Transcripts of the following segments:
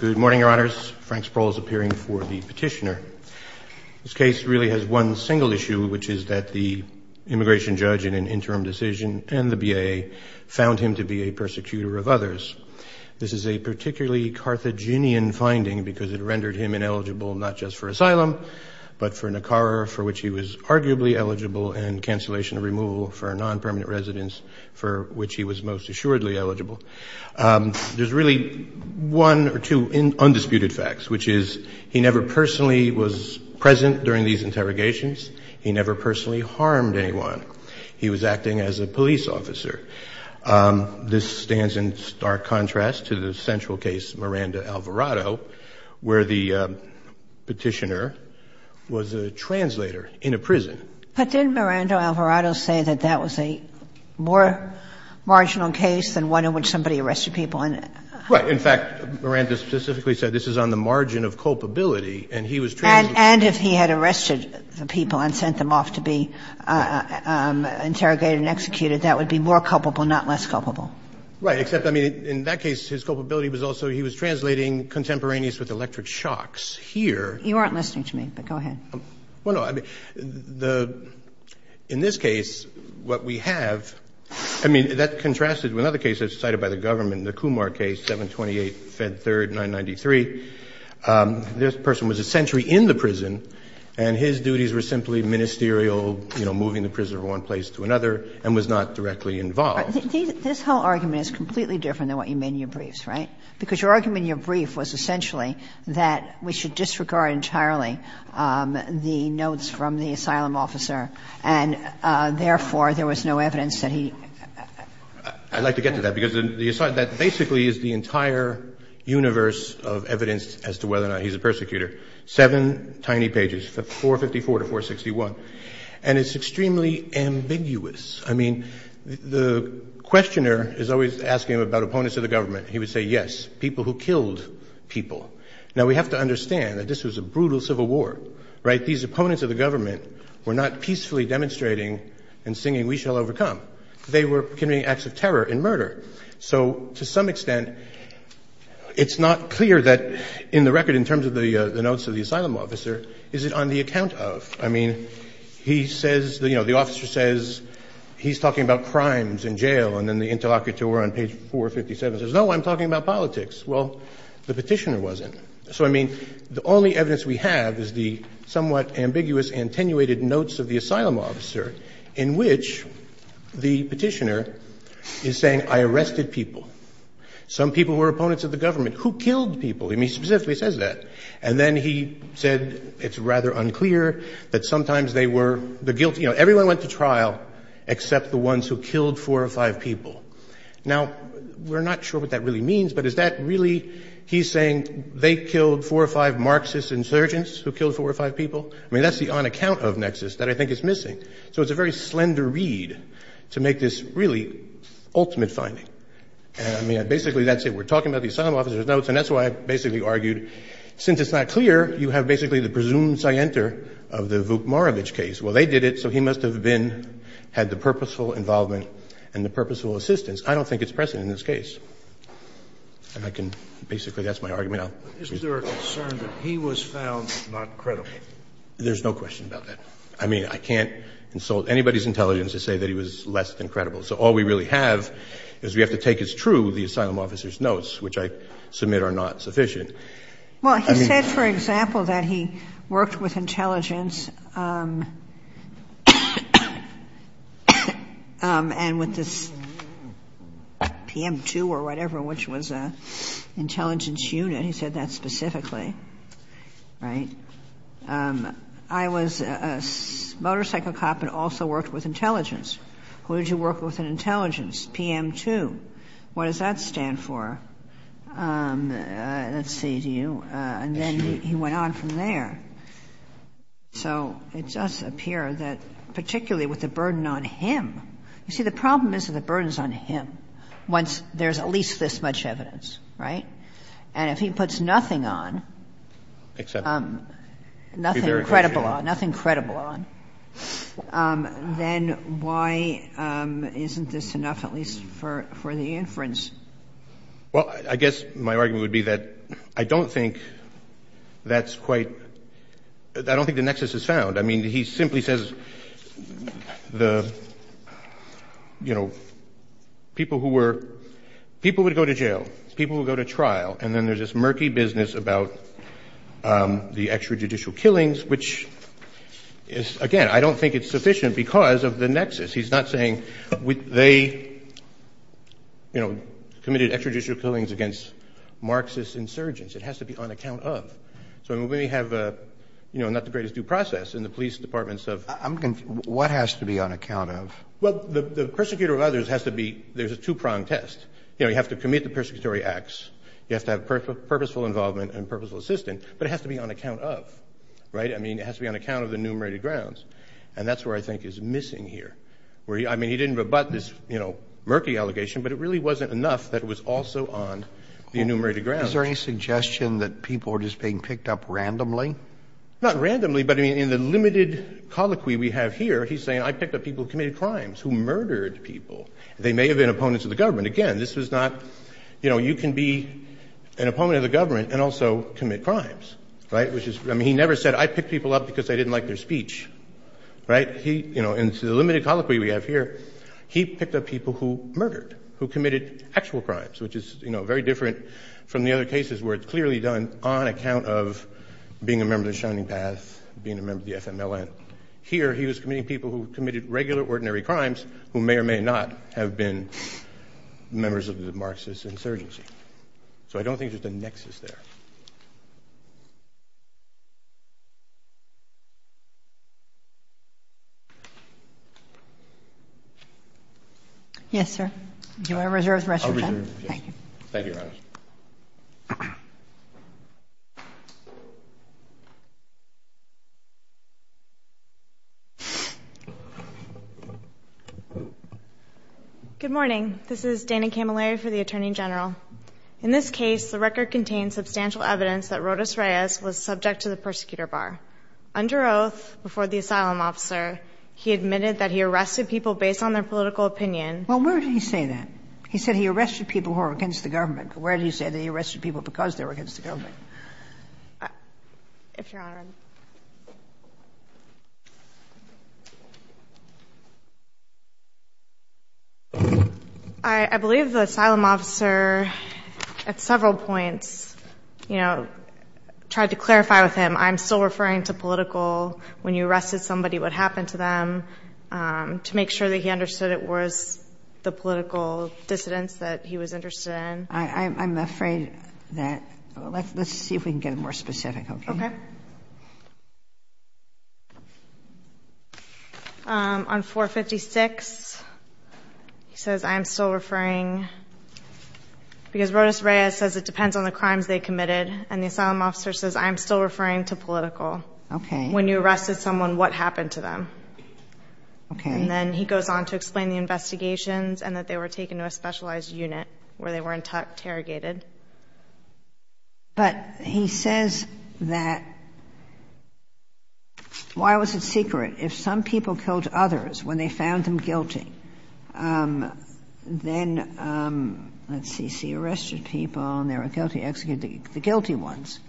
Good morning, your honors. Frank Sproul is appearing for the petitioner. This case really has one single issue, which is that the immigration judge in an interim decision and the BAA found him to be a persecutor of others. This is a particularly Carthaginian finding because it rendered him ineligible not just for asylum, but for Nicarra, for which he was arguably eligible, and cancellation or removal for non-permanent residence, for which he was most assuredly eligible. There's really one or two undisputed facts, which is he never personally was present during these interrogations. He never personally harmed anyone. He was acting as a police officer. This stands in stark contrast to the central case, Miranda-Alvarado, where the petitioner was a translator in a prison. But didn't Miranda-Alvarado say that that was a more marginal case than one in which somebody arrested people? Right. In fact, Miranda specifically said this is on the margin of culpability, and he was translating. And if he had arrested the people and sent them off to be interrogated and executed, that would be more culpable, not less culpable. Right. Except, I mean, in that case, his culpability was also he was translating contemporaneous with electric shocks here. You aren't listening to me, but go ahead. Well, no. I mean, the – in this case, what we have – I mean, that contrasts with another case that's cited by the government, the Kumar case, 728 Fed 3rd 993. This person was essentially in the prison, and his duties were simply ministerial, you know, moving the prisoner from one place to another, and was not directly involved. This whole argument is completely different than what you made in your briefs, right? Because your argument in your brief was essentially that we should disregard entirely the notes from the asylum officer, and therefore, there was no evidence that he – I'd like to get to that, because the – that basically is the entire universe of evidence as to whether or not he's a persecutor. Seven tiny pages, 454 to 461, and it's extremely ambiguous. I mean, the questioner is always asking about opponents of the government. He would say, yes, people who killed people. Now, we have to understand that this was a brutal civil war, right? These opponents of the government were not peacefully demonstrating and singing we shall overcome. They were committing acts of terror and murder. So to some extent, it's not clear that in the record in terms of the notes of the asylum officer, is it on the account of? I mean, he says – you know, the officer says he's talking about crimes in jail, and then the interlocutor on page 457 says, no, I'm talking about politics. Well, the Petitioner wasn't. So, I mean, the only evidence we have is the somewhat ambiguous, attenuated notes of the asylum officer in which the Petitioner is saying, I arrested people. Some people were opponents of the government. Who killed people? I mean, he specifically says that. And then he said it's rather unclear that sometimes they were the guilty – you know, everyone went to trial except the ones who killed four or five people. Now, we're not sure what that really means, but is that really – he's saying they killed four or five Marxist insurgents who killed four or five people? I mean, that's the on account of nexus that I think is missing. So it's a very slender read to make this really ultimate finding. And, I mean, basically that's it. We're talking about the asylum officer's notes, and that's why I basically argued since it's not clear, you have basically the presumed scienter of the Vuk Marovitch case. Well, they did it, so he must have been – had the purposeful involvement and the purposeful assistance. I don't think it's present in this case. And I can basically – that's my argument. Scalia. But isn't there a concern that he was found not credible? Horwich. There's no question about that. I mean, I can't insult anybody's intelligence to say that he was less than credible. So all we really have is we have to take as true the asylum officer's notes, which I submit are not sufficient. Well, he said, for example, that he worked with intelligence and with this PM2 or whatever, which was an intelligence unit. He said that specifically. Right? I was a motorcycle cop and also worked with intelligence. Who did you work with in intelligence? PM2. What does that stand for? Let's see. Do you – and then he went on from there. So it does appear that particularly with the burden on him – you see, the problem is that the burden is on him once there's at least this much evidence. Right? And if he puts nothing on, nothing credible on, nothing credible on, then why isn't this enough, at least for the inference? Well, I guess my argument would be that I don't think that's quite – I don't think the nexus is found. I mean, he simply says the – you know, people who were – people would go to jail, people would go to trial, and then there's this murky business about the extrajudicial killings, which is – again, I don't think it's sufficient because of the nexus. He's not saying they, you know, committed extrajudicial killings against Marxist insurgents. It has to be on account of. So when we have, you know, not the greatest due process in the police departments of – I'm confused. What has to be on account of? Well, the persecutor of others has to be – there's a two-pronged test. You know, you have to commit the persecutory acts. You have to have purposeful involvement and purposeful assistance, but it has to be on account of. Right? I mean, it has to be on account of the enumerated grounds. And that's where I think is missing here, where he – I mean, he didn't rebut this, you know, murky allegation, but it really wasn't enough that it was also on the enumerated grounds. Is there any suggestion that people are just being picked up randomly? Not randomly, but, I mean, in the limited colloquy we have here, he's saying, I picked up people who committed crimes, who murdered people. They may have been opponents of the government. Again, this was not – you know, you can be an opponent of the government and also commit crimes. Right? Which is – I mean, he never said, I picked people up because I didn't like their speech. Right? He – you know, in the limited colloquy we have here, he picked up people who murdered, who committed actual crimes, which is, you know, very different from the other cases where it's clearly done on account of being a member of the Shining Path, being a member of the FMLN. Here, he was committing people who committed regular, ordinary crimes who may or may not have been members of the Marxist insurgency. So I don't think there's a nexus there. Yes, sir? Do you want to reserve the rest of your time? I'll reserve it, yes. Thank you. Thank you, Your Honor. Good morning. This is Dana Camilleri for the Attorney General. In this case, the record contains substantial evidence that Rodas Reyes was subject to the persecutor bar. Under oath before the asylum officer, he admitted that he arrested people based on their political opinion. Well, where did he say that? He said he arrested people who were against the government. But where did he say that he arrested people because they were against the government? If Your Honor. I believe the asylum officer, at several points, you know, tried to clarify with him, I'm still referring to political, when you arrested somebody, what happened to them, to make sure that he understood it was the political dissidents that he was interested in. I'm afraid that, let's see if we can get more specific, okay? Okay. On 456, he says, I'm still referring, because Rodas Reyes says it depends on the crimes they committed, and the asylum officer says, I'm still referring to political. Okay. When you arrested someone, what happened to them? Okay. And then he goes on to explain the investigations and that they were taken to a specialized unit where they were interrogated. But he says that, why was it secret? If some people killed others when they found them guilty, then, let's see, he arrested people and they were guilty, executed the guilty ones.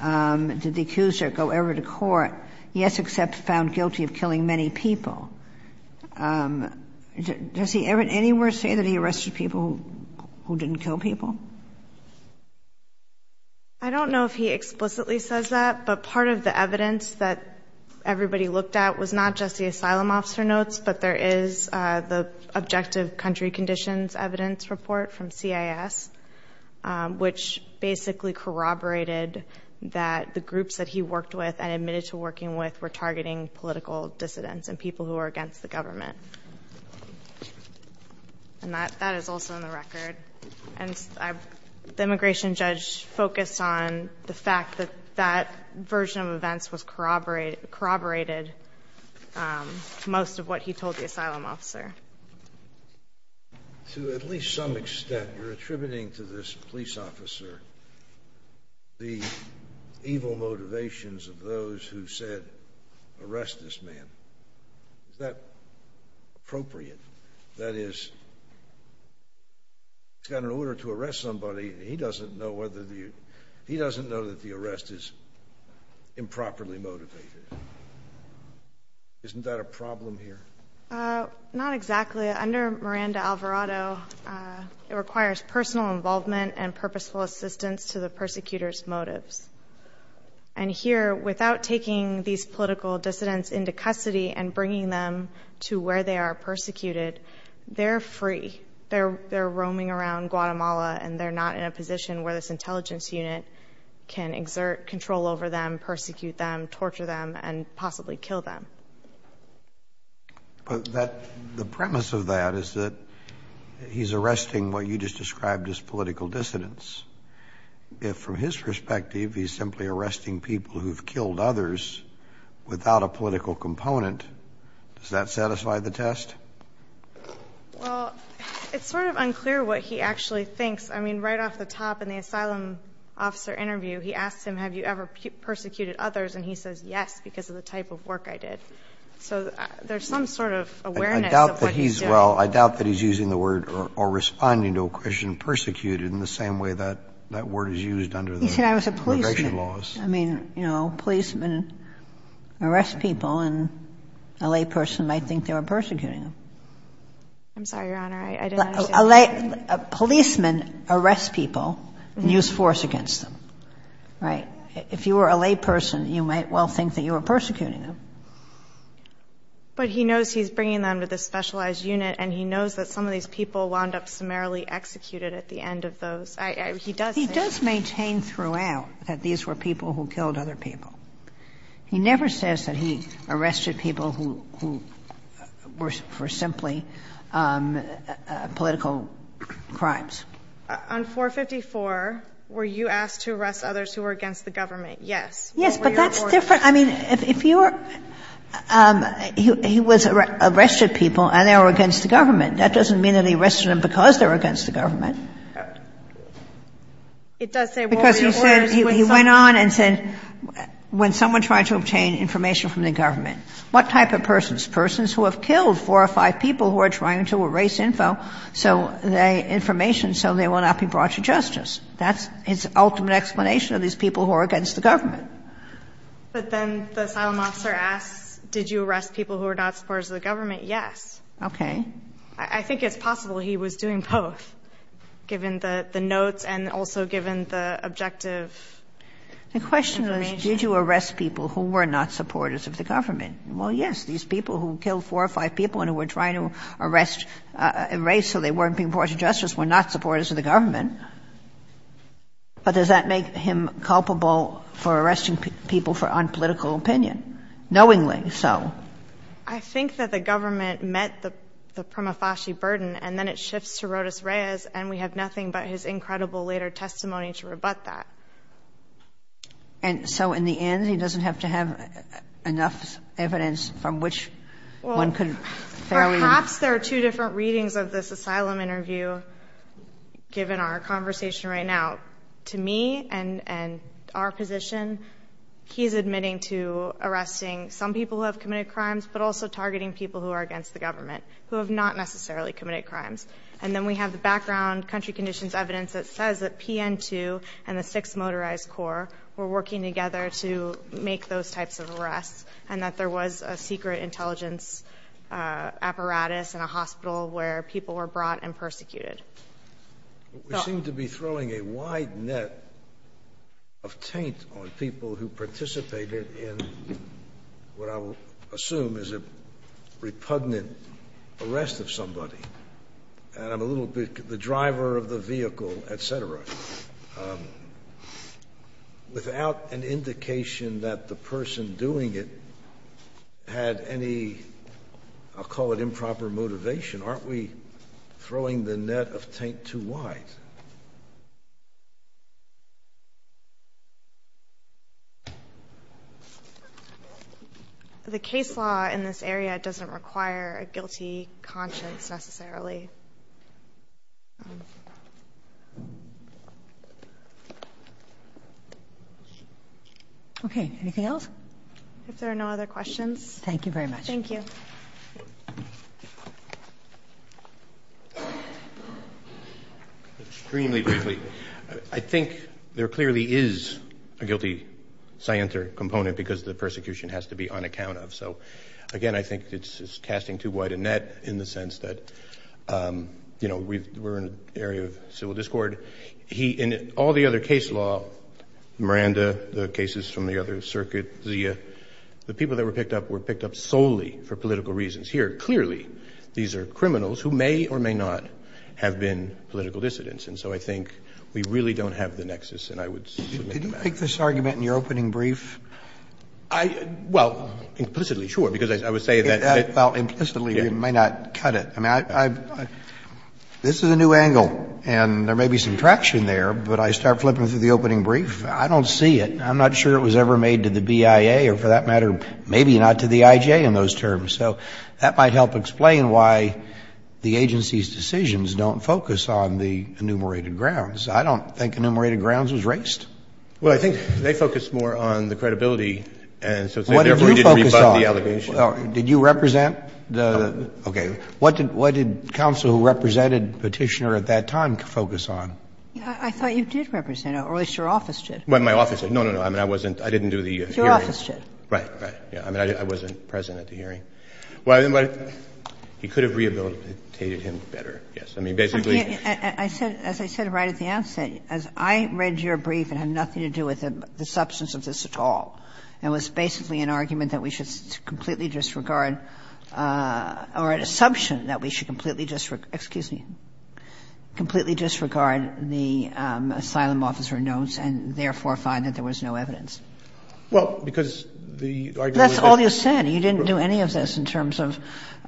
Did the accuser go ever to court? Yes, except found guilty of killing many people. Does he anywhere say that he arrested people who didn't kill people? I don't know if he explicitly says that, but part of the evidence that everybody looked at was not just the asylum officer notes, but there is the objective country conditions evidence report from CIS, which basically corroborated that the groups that he worked with and admitted to working with were targeting political dissidents and people who were against the government. And that is also in the record. And the immigration judge focused on the fact that that version of events was corroborated most of what he told the asylum officer. To at least some extent, you're attributing to this police officer the evil motivations of those who said, arrest this man. Is that appropriate? That is, he's got an order to arrest somebody, and he doesn't know that the arrest is improperly motivated. Isn't that a problem here? Not exactly. Under Miranda-Alvarado, it requires personal involvement and purposeful assistance to the persecutor's motives. And here, without taking these political dissidents into custody and bringing them to where they are persecuted, they're free. They're roaming around Guatemala, and they're not in a position where this intelligence unit can exert control over them, persecute them, torture them, and possibly kill them. The premise of that is that he's arresting what you just described as political dissidents. If from his perspective, he's simply arresting people who've killed others without a political component, does that satisfy the test? Well, it's sort of unclear what he actually thinks. I mean, right off the top in the asylum officer interview, he asks him, have you ever persecuted others? And he says, yes, because of the type of work I did. So there's some sort of awareness of what he's doing. Well, I doubt that he's using the word or responding to a question persecuted in the same way that that word is used under the immigration laws. Yeah, I was a policeman. I mean, you know, policemen arrest people, and a layperson might think they were persecuting them. I'm sorry, Your Honor. I didn't understand. Policemen arrest people and use force against them, right? If you were a layperson, you might well think that you were persecuting them. But he knows he's bringing them to the specialized unit, and he knows that some of these people wound up summarily executed at the end of those. He does say that. He does maintain throughout that these were people who killed other people. He never says that he arrested people who were for simply political crimes. On 454, were you asked to arrest others who were against the government? Yes. Yes, but that's different. I mean, if you were – he was arrested people and they were against the government. That doesn't mean that he arrested them because they were against the government. Because he said – he went on and said when someone tried to obtain information from the government, what type of persons? Persons who have killed four or five people who are trying to erase info, so the information, so they will not be brought to justice. That's his ultimate explanation of these people who are against the government. But then the asylum officer asks, did you arrest people who were not supporters of the government? Okay. I think it's possible he was doing both, given the notes and also given the objective information. The question is, did you arrest people who were not supporters of the government? Well, yes. These people who killed four or five people and who were trying to arrest – erase so they weren't being brought to justice were not supporters of the government. But does that make him culpable for arresting people for unpolitical opinion, knowingly so? I think that the government met the Prima Fasci burden, and then it shifts to Rodas Reyes, and we have nothing but his incredible later testimony to rebut that. And so in the end, he doesn't have to have enough evidence from which one could fairly – Well, perhaps there are two different readings of this asylum interview, given our conversation right now. To me and our position, he's admitting to arresting some people who have committed crimes but also targeting people who are against the government, who have not necessarily committed crimes. And then we have the background country conditions evidence that says that PN2 and the Sixth Motorized Corps were working together to make those types of arrests and that there was a secret intelligence apparatus in a hospital where people were brought and persecuted. We seem to be throwing a wide net of taint on people who participated in what I will assume is a repugnant arrest of somebody. And I'm a little bit – the driver of the vehicle, et cetera. Without an indication that the person doing it had any, I'll call it improper motivation, aren't we throwing the net of taint too wide? The case law in this area doesn't require a guilty conscience necessarily. Okay. Anything else? If there are no other questions. Thank you very much. Thank you. Extremely briefly. I think there clearly is a guilty scienter component because the persecution has to be on account of. So again, I think it's casting too wide a net in the sense that we're in an area of civil discord. In all the other case law, Miranda, the cases from the other circuit, Zia, the people that were picked up were picked up solely for political reasons. Here, clearly, these are criminals who may or may not have been political dissidents. And so I think we really don't have the nexus. And I would submit that. Could you make this argument in your opening brief? I – well, implicitly, sure. Because I would say that – Well, implicitly, you may not cut it. I mean, I – this is a new angle, and there may be some traction there, but I start flipping through the opening brief. I don't see it. I'm not sure it was ever made to the BIA or, for that matter, maybe not to the IJ in those terms. So that might help explain why the agency's decisions don't focus on the enumerated grounds. I don't think enumerated grounds was raised. Well, I think they focused more on the credibility, and so therefore, we didn't rebut the allegation. What did you focus on? Did you represent the – okay. What did counsel who represented Petitioner at that time focus on? I thought you did represent it, or at least your office did. Well, my office did. No, no, no. I mean, I wasn't – I didn't do the hearing. Your office did. Right, right. I mean, I wasn't present at the hearing. Well, he could have rehabilitated him better, yes. I mean, basically – I said – as I said right at the outset, as I read your brief, it had nothing to do with the substance of this at all. It was basically an argument that we should completely disregard or an assumption that we should completely disregard – excuse me – completely disregard the asylum officer notes and therefore find that there was no evidence. Well, because the argument was that – That's all you said. You didn't do any of this in terms of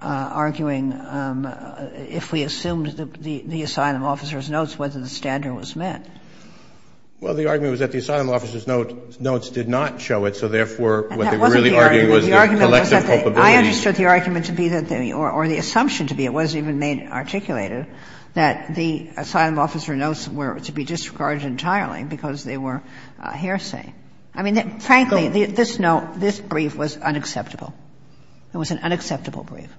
arguing if we assumed the asylum officer's notes, whether the standard was met. Well, the argument was that the asylum officer's notes did not show it, so therefore what they were really arguing was the collective culpability. I understood the argument to be that the – or the assumption to be, it wasn't even articulated, that the asylum officer notes were to be disregarded entirely because they were a hearsay. I mean, frankly, this note, this brief was unacceptable. It was an unacceptable brief.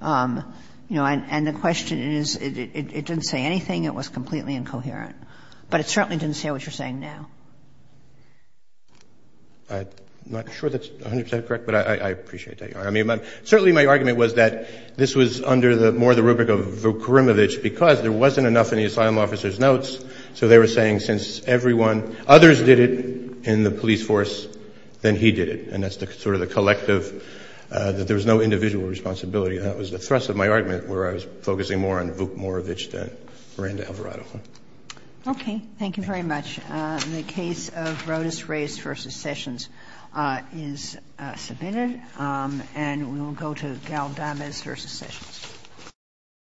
You know, and the question is, it didn't say anything. It was completely incoherent. But it certainly didn't say what you're saying now. I'm not sure that's 100 percent correct, but I appreciate that. I mean, certainly my argument was that this was under the – more the rubric of Vukorinovich because there wasn't enough in the asylum officer's notes, so they were saying since everyone – others did it in the police force, then he did it. And that's sort of the collective – that there was no individual responsibility. That was the thrust of my argument, where I was focusing more on Vukorinovich than Miranda Alvarado. Okay. Thank you very much. The case of Rodas Reyes v. Sessions is submitted. And we will go to Gal Dames v. Sessions.